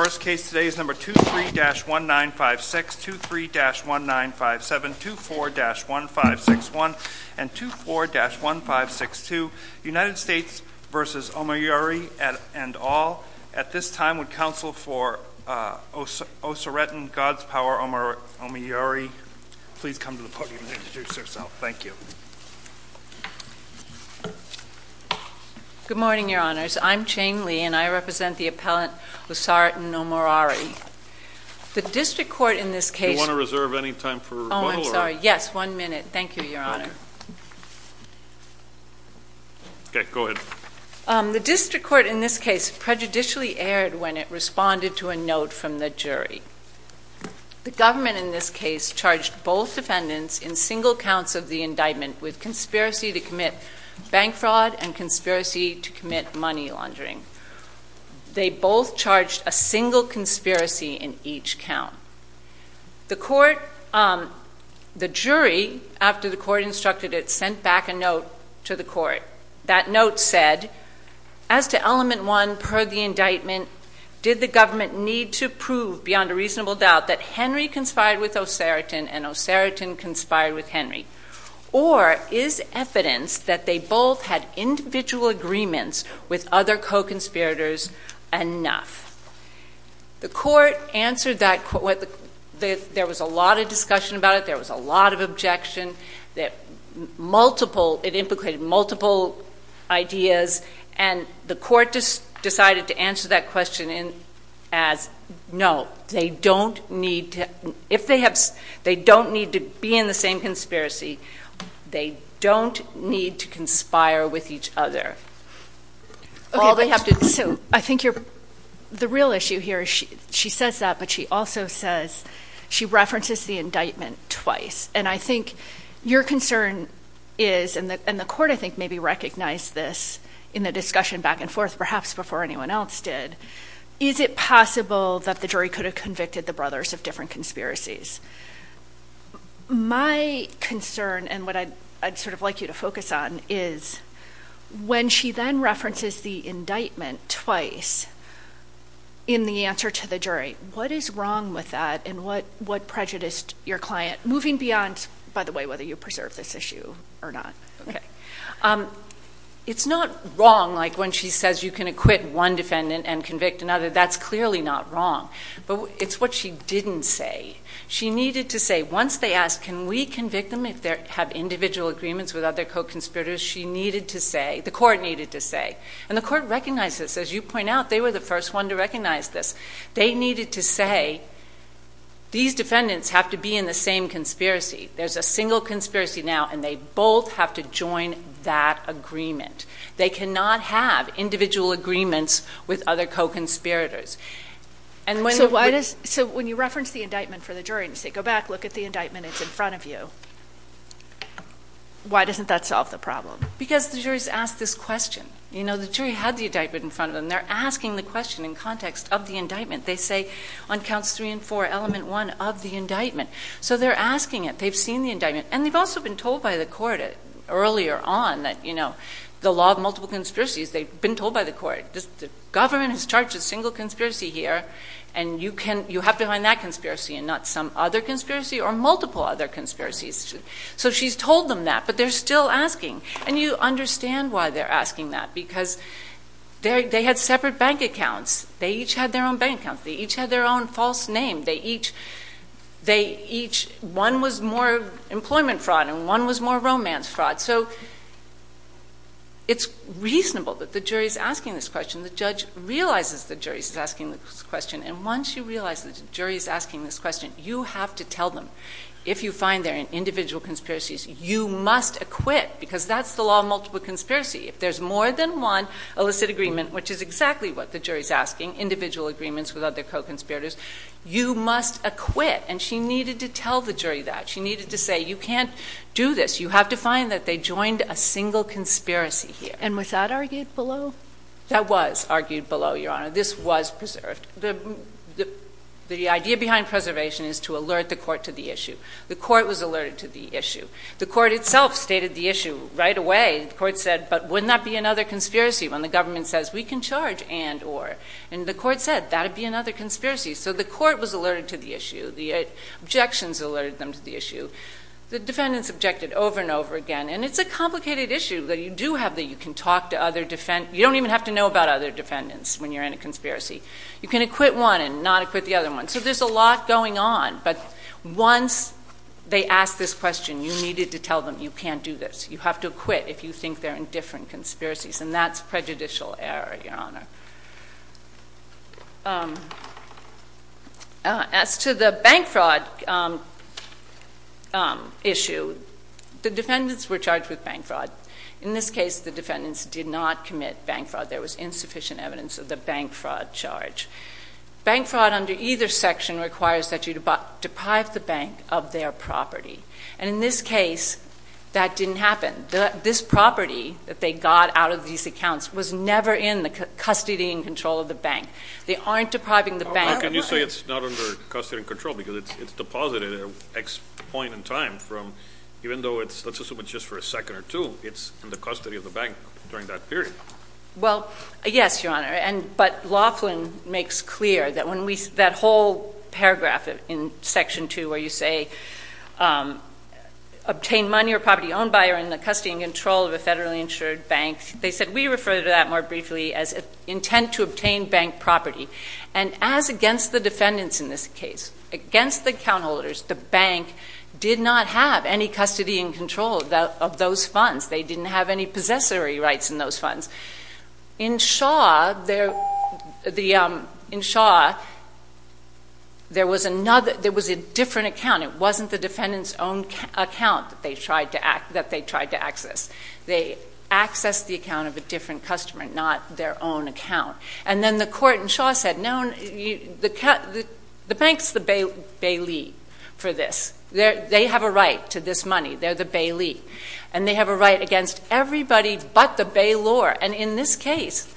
Our first case today is number 23-1956, 23-1957, 24-1561, and 24-1562, United States v. Omoruyi and all. At this time, would counsel for Osaretan, God's Power, Omoruyi please come to the podium and introduce herself. Thank you. Good morning, Your Honors. I'm Jane Lee and I represent the appellant Osaretan Omoruyi. The district court in this case prejudicially erred when it responded to a note from the jury. The government in this case charged both defendants in single counts of the indictment with conspiracy to commit bank fraud and conspiracy to commit money laundering. They both charged a single conspiracy in each count. The jury, after the court instructed it, sent back a note to the court. That note said, as to element one per the indictment, did the government need to prove beyond a reasonable doubt that Henry conspired with Osaretan and Osaretan conspired with Henry? Or is evidence that they both had individual agreements with other co-conspirators enough? The court answered that. There was a lot of discussion about it. There was a lot of objection. It implicated multiple ideas and the court decided to answer that question as, no, they don't need to be in the same conspiracy. They don't need to conspire with each other. I think the real issue here, she says that, but she also says she references the indictment twice. I think your concern is, and the court I think maybe recognized this in the discussion back and forth, perhaps before anyone else did, is it possible that the jury could have convicted the brothers of different conspiracies? My concern and what I'd sort of like you to focus on is, when she then references the indictment twice in the answer to the jury, what is wrong with that and what prejudiced your client, moving beyond, by the way, whether you preserve this issue or not? It's not wrong, like when she says you can acquit one defendant and convict another. That's clearly not wrong. But it's what she didn't say. She needed to say, once they asked, can we convict them if they have individual agreements with other co-conspirators? She needed to say, the court needed to say, and the court recognized this. As you point out, they were the first one to recognize this. They needed to say, these defendants have to be in the same conspiracy. There's a single conspiracy now, and they both have to join that agreement. They cannot have individual agreements with other co-conspirators. And so when you reference the indictment for the jury and say, go back, look at the indictment that's in front of you, why doesn't that solve the problem? Because the jury's asked this question. The jury had the indictment in front of them. They're asking the question in context of the indictment. They say, on counts three and four, element one of the indictment. So they're asking it. They've seen the indictment. And they've also been told by the court earlier on that the law of multiple conspiracies, they've been told by the court, the government has charged a single conspiracy here, and you have to find that conspiracy and not some other conspiracy or multiple other conspiracies. So she's told them that, but they're still asking. And you understand why they're asking that, because they had separate bank accounts. They each had their own bank accounts. They each had their own false name. One was more employment fraud and one was more romance fraud. So it's reasonable that the jury's asking this question. The judge realizes the jury's asking this question. And once you realize the jury's asking this question, you have to tell them, if you find there are individual conspiracies, you must acquit, because that's the law of multiple conspiracy. If there's more than one illicit agreement, which is exactly what the jury's asking, individual agreements with other co-conspirators, you must acquit. And she needed to tell the jury that. She needed to say, you can't do this. You have to find that they joined a single conspiracy here. And was that argued below? That was argued below, Your Honor. This was preserved. The idea behind preservation is to alert the court to the issue. The court was alerted to the issue. The court itself stated the issue right away. The court said, but wouldn't that be another conspiracy when the government says, we can charge and or? And the court said, that'd be another conspiracy. So the court was alerted to the issue. The objections alerted them to the issue. The defendants objected over and over again. And it's a complicated issue that you do have that you can talk to other defendants. You don't even have to know about other defendants when you're in a conspiracy. You can acquit one and not acquit the other one. So there's a lot going on. But once they ask this question, you needed to tell them, you can't do this. You have to acquit if you think they're in different conspiracies. And that's prejudicial error, Your Honor. As to the bank fraud issue, the defendants were charged with bank fraud. In this case, the defendants did not commit bank fraud. There was insufficient evidence of the bank fraud charge. Bank fraud under either section requires that you deprive the bank of their property. And in this case, that didn't happen. This property that they got out of these accounts was never in the custody and control of the bank. They aren't depriving the bank. Well, can you say it's not under custody and control? Because it's deposited at X point in time from, even though it's, let's assume it's just for a second or two, it's in the custody of the bank during that period. Well, yes, Your Honor. But Laughlin makes clear that when we, that whole paragraph in section two where you say, obtain money or property owned by or in the custody and control of a federally insured bank, they said, we refer to that more briefly as intent to obtain bank property. And as against the defendants in this case, against the account holders, the bank did not have any custody and control of those funds. They didn't have any possessory rights in those funds. In Shaw, there was a different account. It wasn't the defendant's own account that they tried to access. They accessed the account of a different customer, not their own account. And then the court in Shaw said, no, the bank's the bailee for this. They have a right to this money. They're the bailee. And they have a right against everybody but the bailor. And in this case,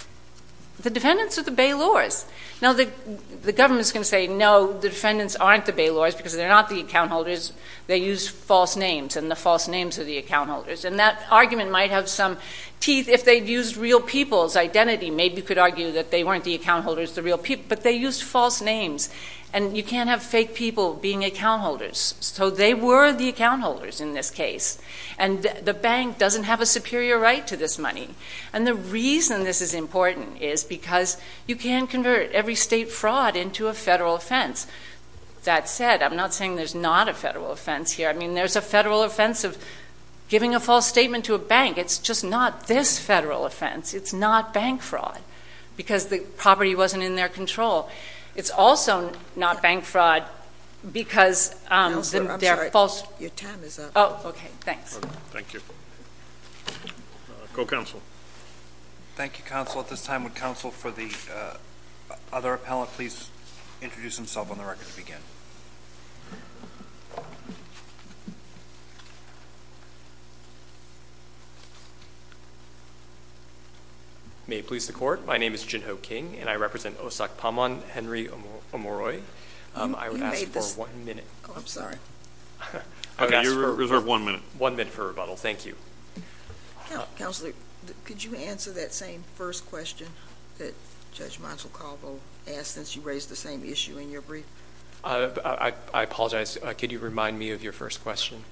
the defendants are the bailors. Now, the government's going to say, no, the defendants aren't the bailors because they're not the account holders. They use false names and the false names are the account holders. And that argument might have some teeth if they'd used real people's identity. Maybe you could argue that they weren't the account holders, the real people, but they used false names. And you can't have fake people being the account holders. So they were the account holders in this case. And the bank doesn't have a superior right to this money. And the reason this is important is because you can convert every state fraud into a federal offense. That said, I'm not saying there's not a federal offense here. I mean, there's a federal offense of giving a false statement to a bank. It's just not this federal offense. It's not bank fraud because the property wasn't in their control. It's also not bank fraud because they're false. Your time is up. Oh, okay. Thanks. Thank you. Go, counsel. Thank you, counsel. At this time, would counsel for the other appellant please introduce himself on the record to begin? May it please the court, my name is Jinho King and I represent Osakpamon Henry Omoroi. I would ask for one minute. Oh, I'm sorry. You're reserved one minute. One minute for rebuttal. Thank you. Counselor, could you answer that same first question that Judge Montecalvo asked since you raised the same issue in your brief? I apologize. Could you remind me of your first question?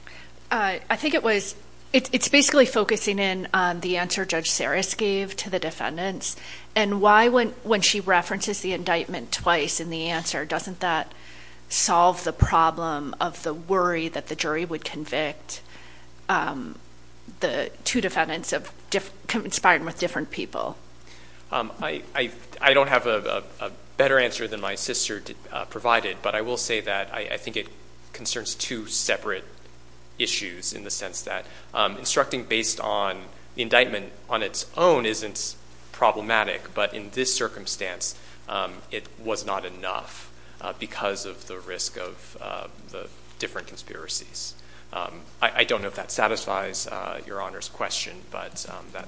I think it was, it's basically focusing in on the answer Judge Serris gave to the defendants and why when she references the indictment twice in the answer, doesn't that solve the problem of the worry that the jury would convict the two defendants of conspiring with different people? I don't have a better answer than my sister provided, but I will say that I think it concerns two separate issues in the sense that instructing based on indictment on its own isn't problematic, but in this circumstance, it was not enough because of the risk of the different conspiracies. I don't know if that satisfies Your Honor's question, but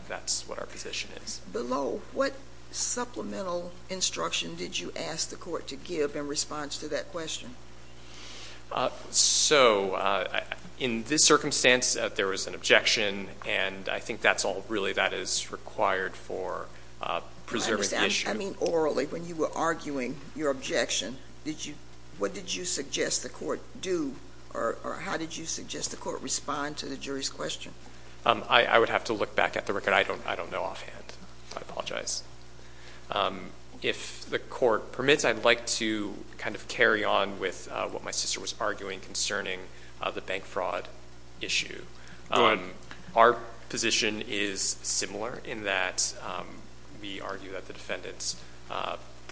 that's what our position is. Below, what supplemental instruction did you ask the court to give in response to that question? So, in this circumstance, there was an objection, and I think that's all really that is required for preserving the issue. I understand. I mean, orally, when you were arguing your objection, what did you suggest the court do or how did you suggest the court respond to the jury's question? I would have to look back at the record. I don't know offhand. I apologize. If the court permits, I'd like to kind of carry on with what my sister was arguing concerning the bank fraud issue. Our position is similar in that we argue that the defendant's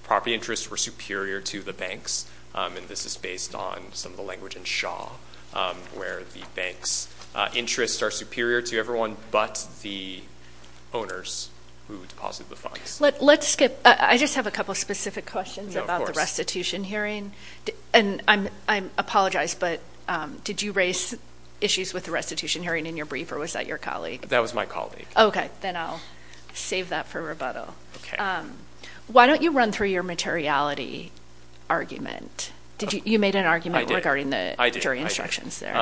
property interests were superior to the bank's, and this is based on some of the language in Shaw, where the bank's interests are superior to everyone but the owners who deposit the funds. Let's skip. I just have a couple of specific questions about the restitution hearing. And I apologize, but did you raise issues with the restitution hearing in your brief or was that your colleague? That was my colleague. Okay. Then I'll save that for rebuttal. Okay. Why don't you run through your materiality argument? You made an argument regarding the jury instructions there.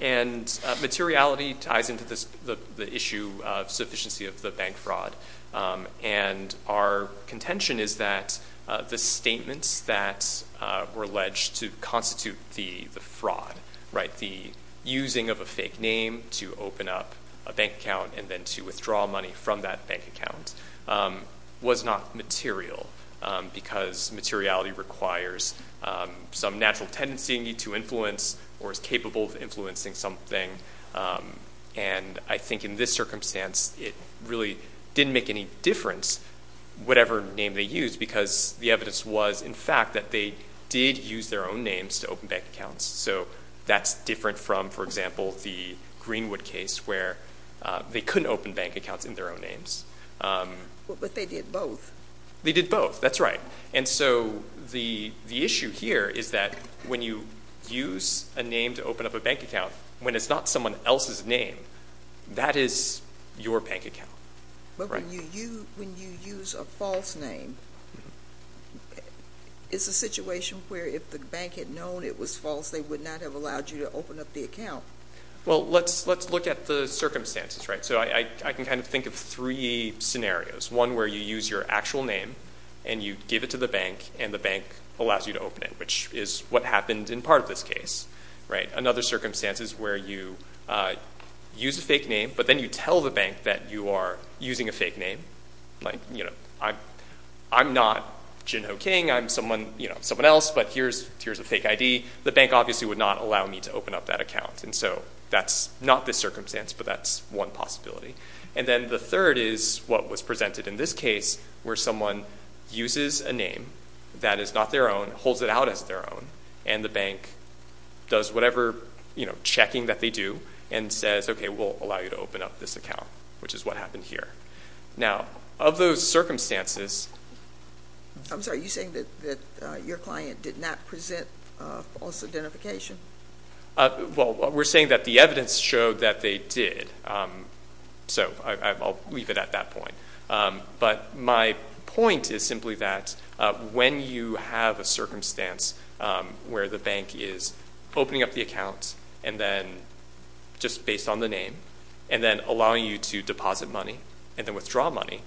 And materiality ties into the issue of sufficiency of the bank fraud. And our contention is that the statements that were alleged to constitute the fraud, the using of a fake name to open up a bank account and then to withdraw money from that bank account was not material because materiality requires some natural tendency to influence or is capable of influencing something. And I think in this circumstance it really didn't make any difference whatever name they used because the evidence was, in fact, that they did use their own names to open bank accounts. So that's different from, for example, the Greenwood case where they couldn't open bank accounts in their own names. But they did both. They did both. That's right. And so the issue here is that when you use a name to open up a bank account, when it's not someone else's name, that is your bank account. But when you use a false name, it's a situation where if the bank had known it was false, they would not have allowed you to open up the account. Well, let's look at the circumstances. So I can kind of think of three scenarios. One where you use your actual name and you give it to the bank and the bank allows you to open it, which is what happened in part of this case. Another circumstance is where you use a fake name, but then you tell the bank that you are using a fake name, like, you know, I'm not Jin Ho King. I'm someone else, but here's a fake ID. The bank obviously would not allow me to open up that account. And so that's not this circumstance, but that's one possibility. And then the third is what was presented in this case, where someone uses a name that is not their own, holds it out as their own, and the bank does whatever, you know, checking that they do and says, okay, we'll allow you to open up this account, which is what happened here. Now, of those circumstances. I'm sorry, are you saying that your client did not present false identification? Well, we're saying that the evidence showed that they did. So I'll leave it at that point. But my point is simply that when you have a circumstance where the bank is opening up the account and then just based on the name and then allowing you to deposit money and then withdraw money,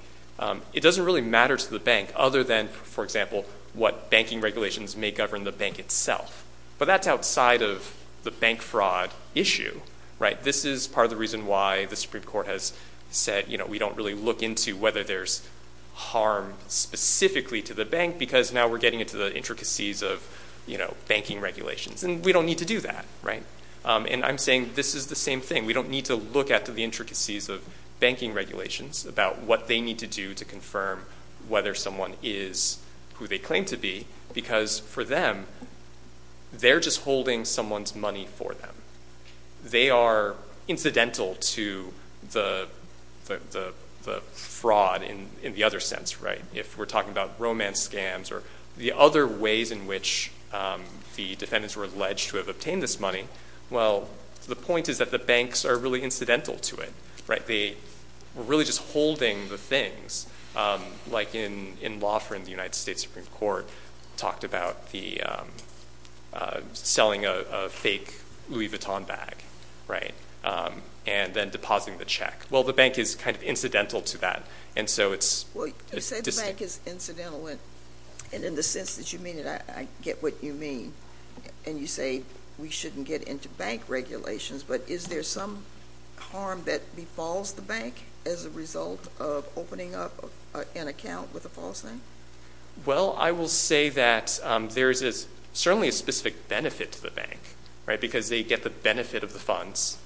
it doesn't really matter to the bank other than, for example, what banking regulations may govern the bank itself. But that's outside of the bank fraud issue. Right. This is part of the reason why the Supreme Court has said, you know, we don't really look into whether there's harm specifically to the bank because now we're getting into the intricacies of, you know, banking regulations and we don't need to do that. Right. And I'm saying this is the same thing. We don't need to look at the intricacies of banking regulations about what they need to do to confirm whether someone is who they claim to be. Because for them, they're just holding someone's money for them. They are incidental to the fraud in the other sense. Right. If we're talking about romance scams or the other ways in which the defendants were alleged to have obtained this money. Well, the point is that the banks are really incidental to it. Right. They were really just holding the things like in law for in the United States Supreme Court talked about the selling a fake Louis Vuitton bag. Right. And then depositing the check. Well, the bank is kind of incidental to that. And so it's what you said is incidental. And in the sense that you mean, I get what you mean. And you say we shouldn't get into bank regulations. But is there some harm that befalls the bank as a result of opening up an account with a false name? Well, I will say that there is certainly a specific benefit to the bank. Right. Because they get the benefit of the funds.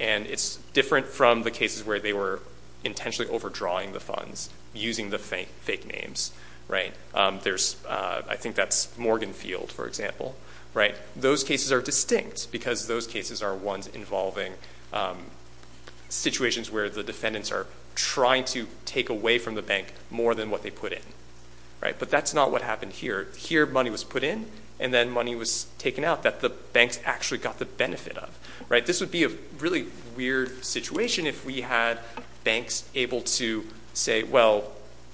And it's different from the cases where they were intentionally overdrawing the funds using the fake names. Right. There's I think that's Morgan Field, for example. Right. Those cases are distinct because those cases are ones involving situations where the defendants are trying to take away from the bank more than what they put in. Right. But that's not what happened here. Here, money was put in and then money was taken out that the banks actually got the benefit of. Right. This would be a really weird situation if we had banks able to say, well,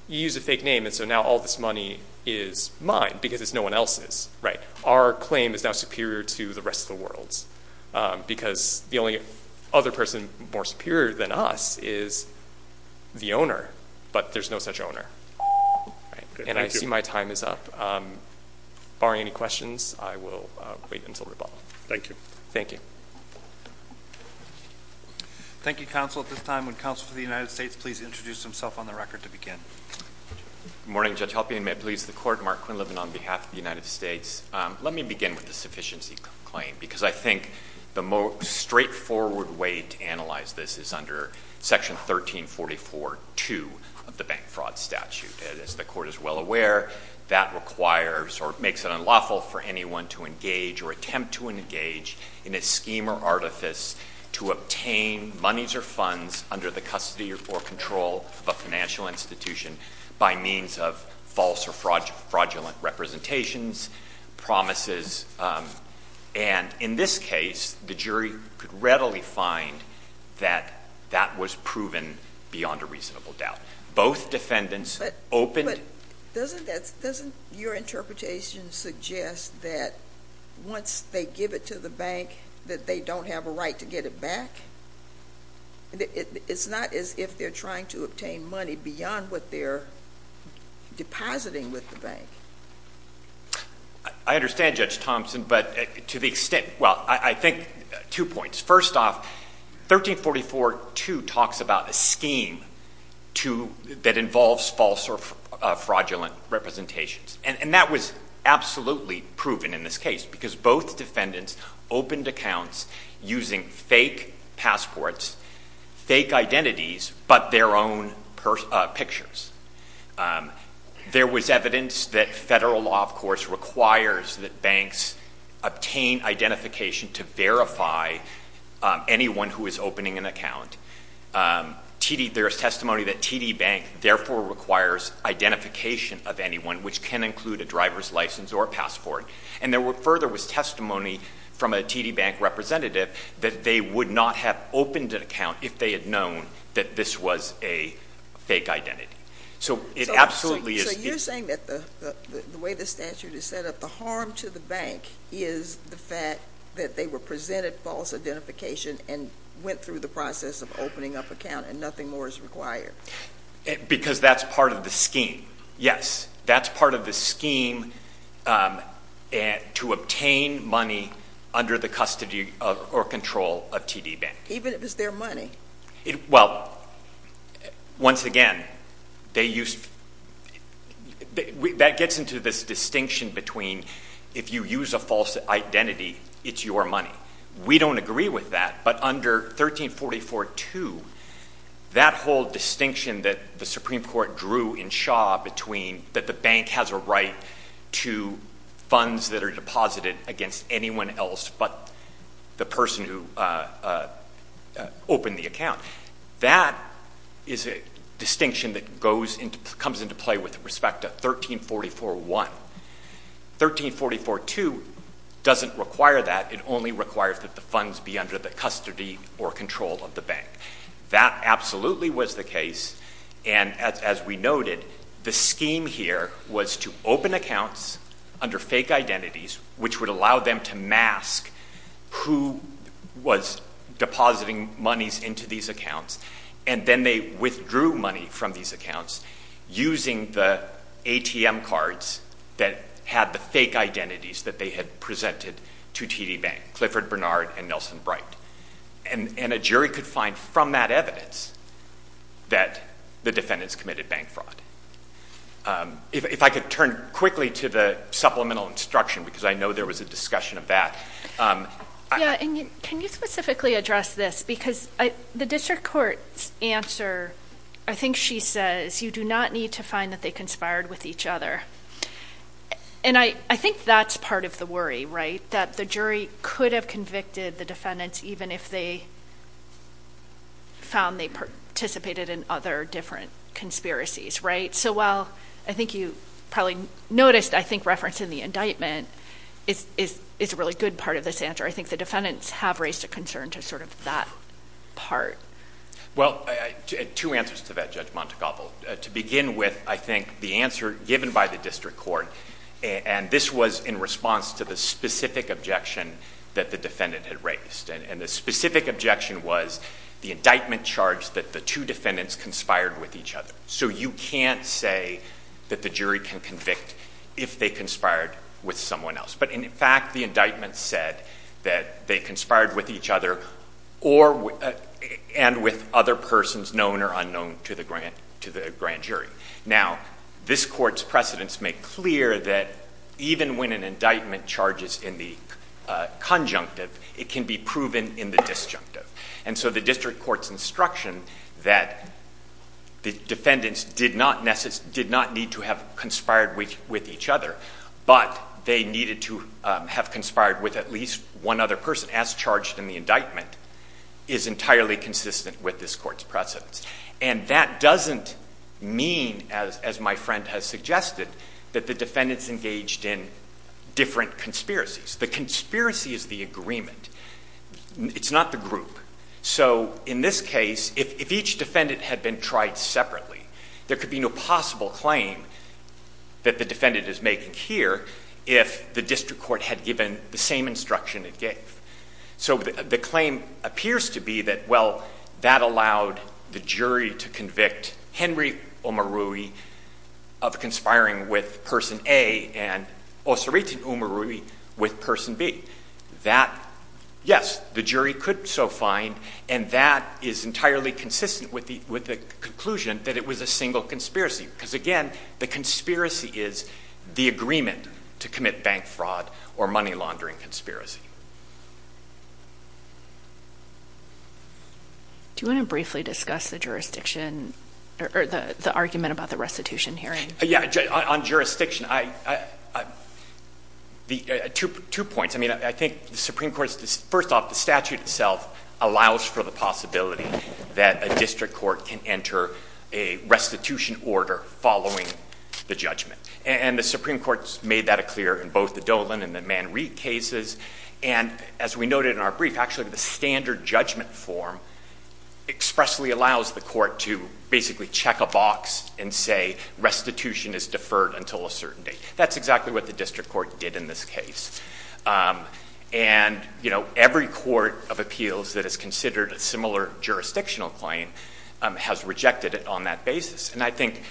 you use a fake name. And so now all this money is mine because it's no one else's. Right. Our claim is now superior to the rest of the world's because the only other person more superior than us is the owner. But there's no such owner. And I see my time is up. Barring any questions, I will wait until the ball. Thank you. Thank you. Thank you, counsel. At this time, when counsel for the United States, please introduce himself on the record to begin. Good morning, Judge Halperin. May it please the Court? Mark Quinlivan on behalf of the United States. Let me begin with the sufficiency claim because I think the most straightforward way to analyze this is under Section 1344.2 of the Bank Fraud Statute. As the Court is well aware, that requires or makes it unlawful for anyone to engage or attempt to engage in a scheme or artifice to obtain monies or funds under the custody or control of a financial institution by means of false or fraudulent representations, promises. And in this case, the jury could readily find that that was proven beyond a reasonable doubt. Both defendants opened But doesn't your interpretation suggest that once they give it to the bank that they don't have a right to get it back? It's not as if they're trying to obtain money beyond what they're depositing with the bank. I understand, Judge Thompson, but to the extent – well, I think two points. First off, 1344.2 talks about a scheme that involves false or fraudulent representations. And that was absolutely proven in this case because both defendants opened accounts using fake passports, fake identities, but their own pictures. There was evidence that federal law, of course, requires that banks obtain identification to verify anyone who is opening an account. There is testimony that TD Bank therefore requires identification of anyone, which can include a driver's license or a passport. And there further was testimony from a TD Bank representative that they would not have opened an account if they had known that this was a fake identity. So you're saying that the way the statute is set up, the harm to the bank is the fact that they were presented false identification and went through the process of opening up an account and nothing more is required? Because that's part of the scheme. Yes, that's part of the scheme to obtain money under the custody or control of TD Bank. Even if it's their money? Well, once again, that gets into this distinction between if you use a false identity, it's your money. We don't agree with that. But under 1344.2, that whole distinction that the Supreme Court drew in Shaw between that the bank has a right to funds that are deposited against anyone else but the person who opened the account, that is a distinction that comes into play with respect to 1344.1. 1344.2 doesn't require that. It only requires that the funds be under the custody or control of the bank. That absolutely was the case, and as we noted, the scheme here was to open accounts under fake identities, which would allow them to mask who was depositing monies into these accounts, and then they withdrew money from these accounts using the ATM cards that had the fake identities that they had presented to TD Bank, Clifford Bernard and Nelson Bright. And a jury could find from that evidence that the defendants committed bank fraud. If I could turn quickly to the supplemental instruction, because I know there was a discussion of that. Yeah, and can you specifically address this? Because the district court's answer, I think she says, you do not need to find that they conspired with each other. And I think that's part of the worry, right? That the jury could have convicted the defendants even if they found they participated in other different conspiracies, right? So while I think you probably noticed, I think, reference in the indictment is a really good part of this answer. I think the defendants have raised a concern to sort of that part. Well, two answers to that, Judge Montecapo. To begin with, I think the answer given by the district court, and this was in response to the specific objection that the defendant had raised. And the specific objection was the indictment charged that the two defendants conspired with each other. So you can't say that the jury can convict if they conspired with someone else. But in fact, the indictment said that they conspired with each other and with other persons known or unknown to the grand jury. Now, this court's precedents make clear that even when an indictment charges in the conjunctive, it can be proven in the disjunctive. And so the district court's instruction that the defendants did not need to have conspired with each other, but they needed to have conspired with at least one other person as charged in the indictment, is entirely consistent with this court's precedents. And that doesn't mean, as my friend has suggested, that the defendants engaged in different conspiracies. The conspiracy is the agreement. It's not the group. So in this case, if each defendant had been tried separately, there could be no possible claim that the defendant is making here if the district court had given the same instruction it gave. So the claim appears to be that, well, that allowed the jury to convict Henry Oumaroui of conspiring with Person A and Osirita Oumaroui with Person B. That, yes, the jury could so find, and that is entirely consistent with the conclusion that it was a single conspiracy. Because, again, the conspiracy is the agreement to commit bank fraud or money laundering conspiracy. Do you want to briefly discuss the jurisdiction or the argument about the restitution hearing? Yeah, on jurisdiction, two points. I mean, I think the Supreme Court, first off, the statute itself allows for the possibility that a district court can enter a restitution order following the judgment. And the Supreme Court has made that clear in both the Dolan and the Manreid cases. And as we noted in our brief, actually, the standard judgment form expressly allows the court to basically check a box and say restitution is deferred until a certain date. That's exactly what the district court did in this case. And, you know, every court of appeals that has considered a similar jurisdictional claim has rejected it on that basis. And I think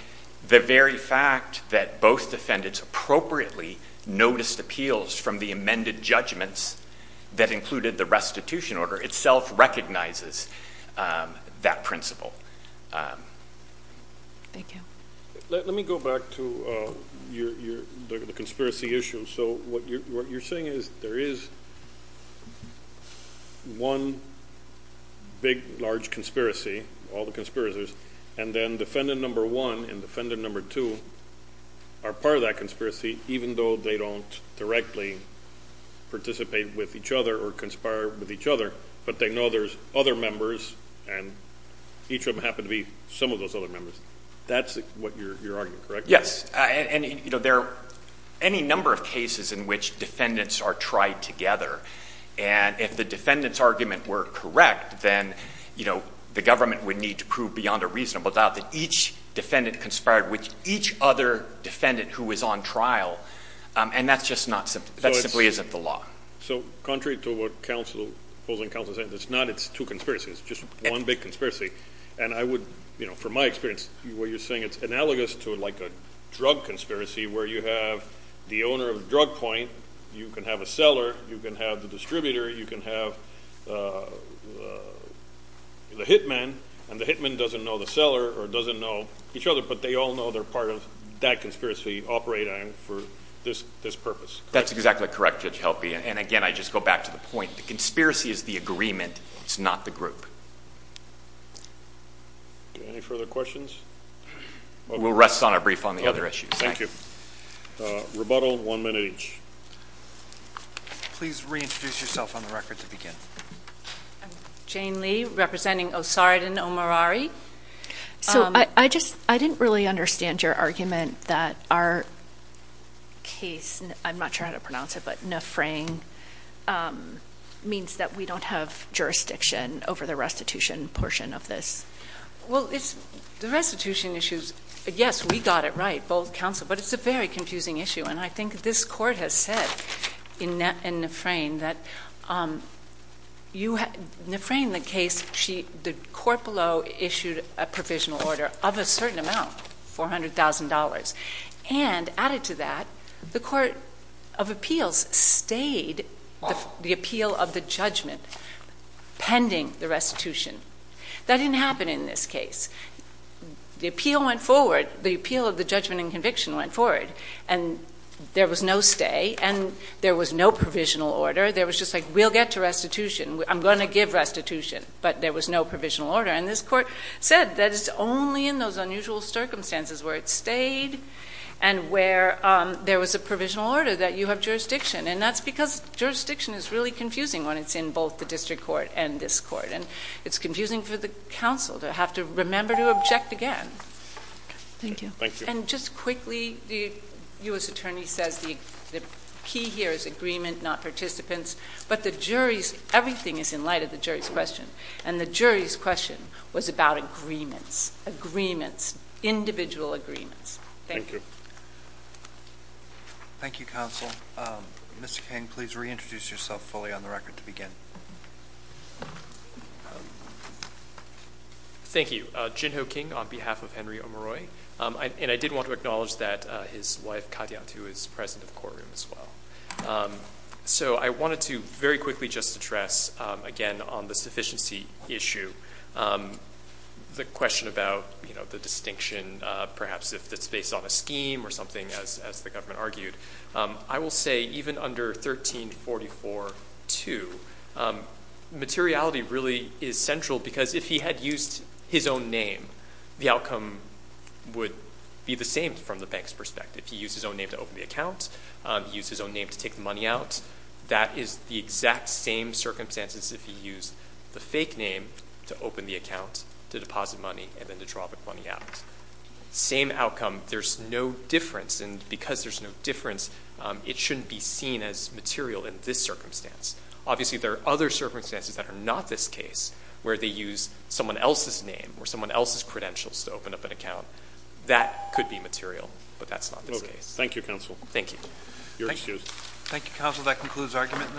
the very fact that both defendants appropriately noticed appeals from the amended judgments that included the restitution order itself recognizes that principle. Thank you. Let me go back to the conspiracy issue. So what you're saying is there is one big, large conspiracy, all the conspiracies, and then defendant number one and defendant number two are part of that conspiracy, even though they don't directly participate with each other or conspire with each other, but they know there's other members and each of them happen to be some of those other members. That's what you're arguing, correct? Yes. And, you know, there are any number of cases in which defendants are tried together. And if the defendant's argument were correct, then, you know, the government would need to prove beyond a reasonable doubt that each defendant conspired with each other defendant who was on trial, and that simply isn't the law. So contrary to what opposing counsel is saying, it's not, it's two conspiracies. It's just one big conspiracy. And I would, you know, from my experience, where you're saying it's analogous to like a drug conspiracy where you have the owner of the drug point, you can have a seller, you can have the distributor, you can have the hitman, and the hitman doesn't know the seller or doesn't know each other, but they all know they're part of that conspiracy operating for this purpose. That's exactly correct, Judge Helpe. And, again, I just go back to the point. The conspiracy is the agreement. It's not the group. Any further questions? We'll rest on our brief on the other issues. Thank you. Rebuttal, one minute each. Please reintroduce yourself on the record to begin. I'm Jane Lee, representing Osardan Omorari. So I just didn't really understand your argument that our case, I'm not sure how to pronounce it, but Nefrain means that we don't have jurisdiction over the restitution portion of this. Well, the restitution issues, yes, we got it right, both counsel, but it's a very confusing issue. And I think this Court has said in Nefrain that Nefrain, the court below issued a provisional order of a certain amount, $400,000. And added to that, the Court of Appeals stayed the appeal of the judgment pending the restitution. That didn't happen in this case. The appeal went forward. And there was no stay. And there was no provisional order. There was just like, we'll get to restitution. I'm going to give restitution. But there was no provisional order. And this court said that it's only in those unusual circumstances where it stayed and where there was a provisional order that you have jurisdiction. And that's because jurisdiction is really confusing when it's in both the district court and this court. And it's confusing for the counsel to have to remember to object again. Thank you. And just quickly, the U.S. Attorney says the key here is agreement, not participants. But the jury's, everything is in light of the jury's question. And the jury's question was about agreements, agreements, individual agreements. Thank you. Thank you, counsel. Mr. King, please reintroduce yourself fully on the record to begin. Thank you. My name is Jin Ho King on behalf of Henry O'Maroy. And I did want to acknowledge that his wife, Katya, too, is present in the courtroom as well. So I wanted to very quickly just address, again, on the sufficiency issue, the question about, you know, the distinction perhaps if it's based on a scheme or something, as the government argued. I will say even under 1344-2, materiality really is central because if he had used his own name, the outcome would be the same from the bank's perspective. He used his own name to open the account. He used his own name to take the money out. That is the exact same circumstances if he used the fake name to open the account, to deposit money, and then to draw the money out. Same outcome. There's no difference. And because there's no difference, it shouldn't be seen as material in this circumstance. Obviously, there are other circumstances that are not this case where they use someone else's name or someone else's credentials to open up an account. That could be material, but that's not this case. Thank you, counsel. Thank you. You're excused. Thank you, counsel. That concludes argument in this case.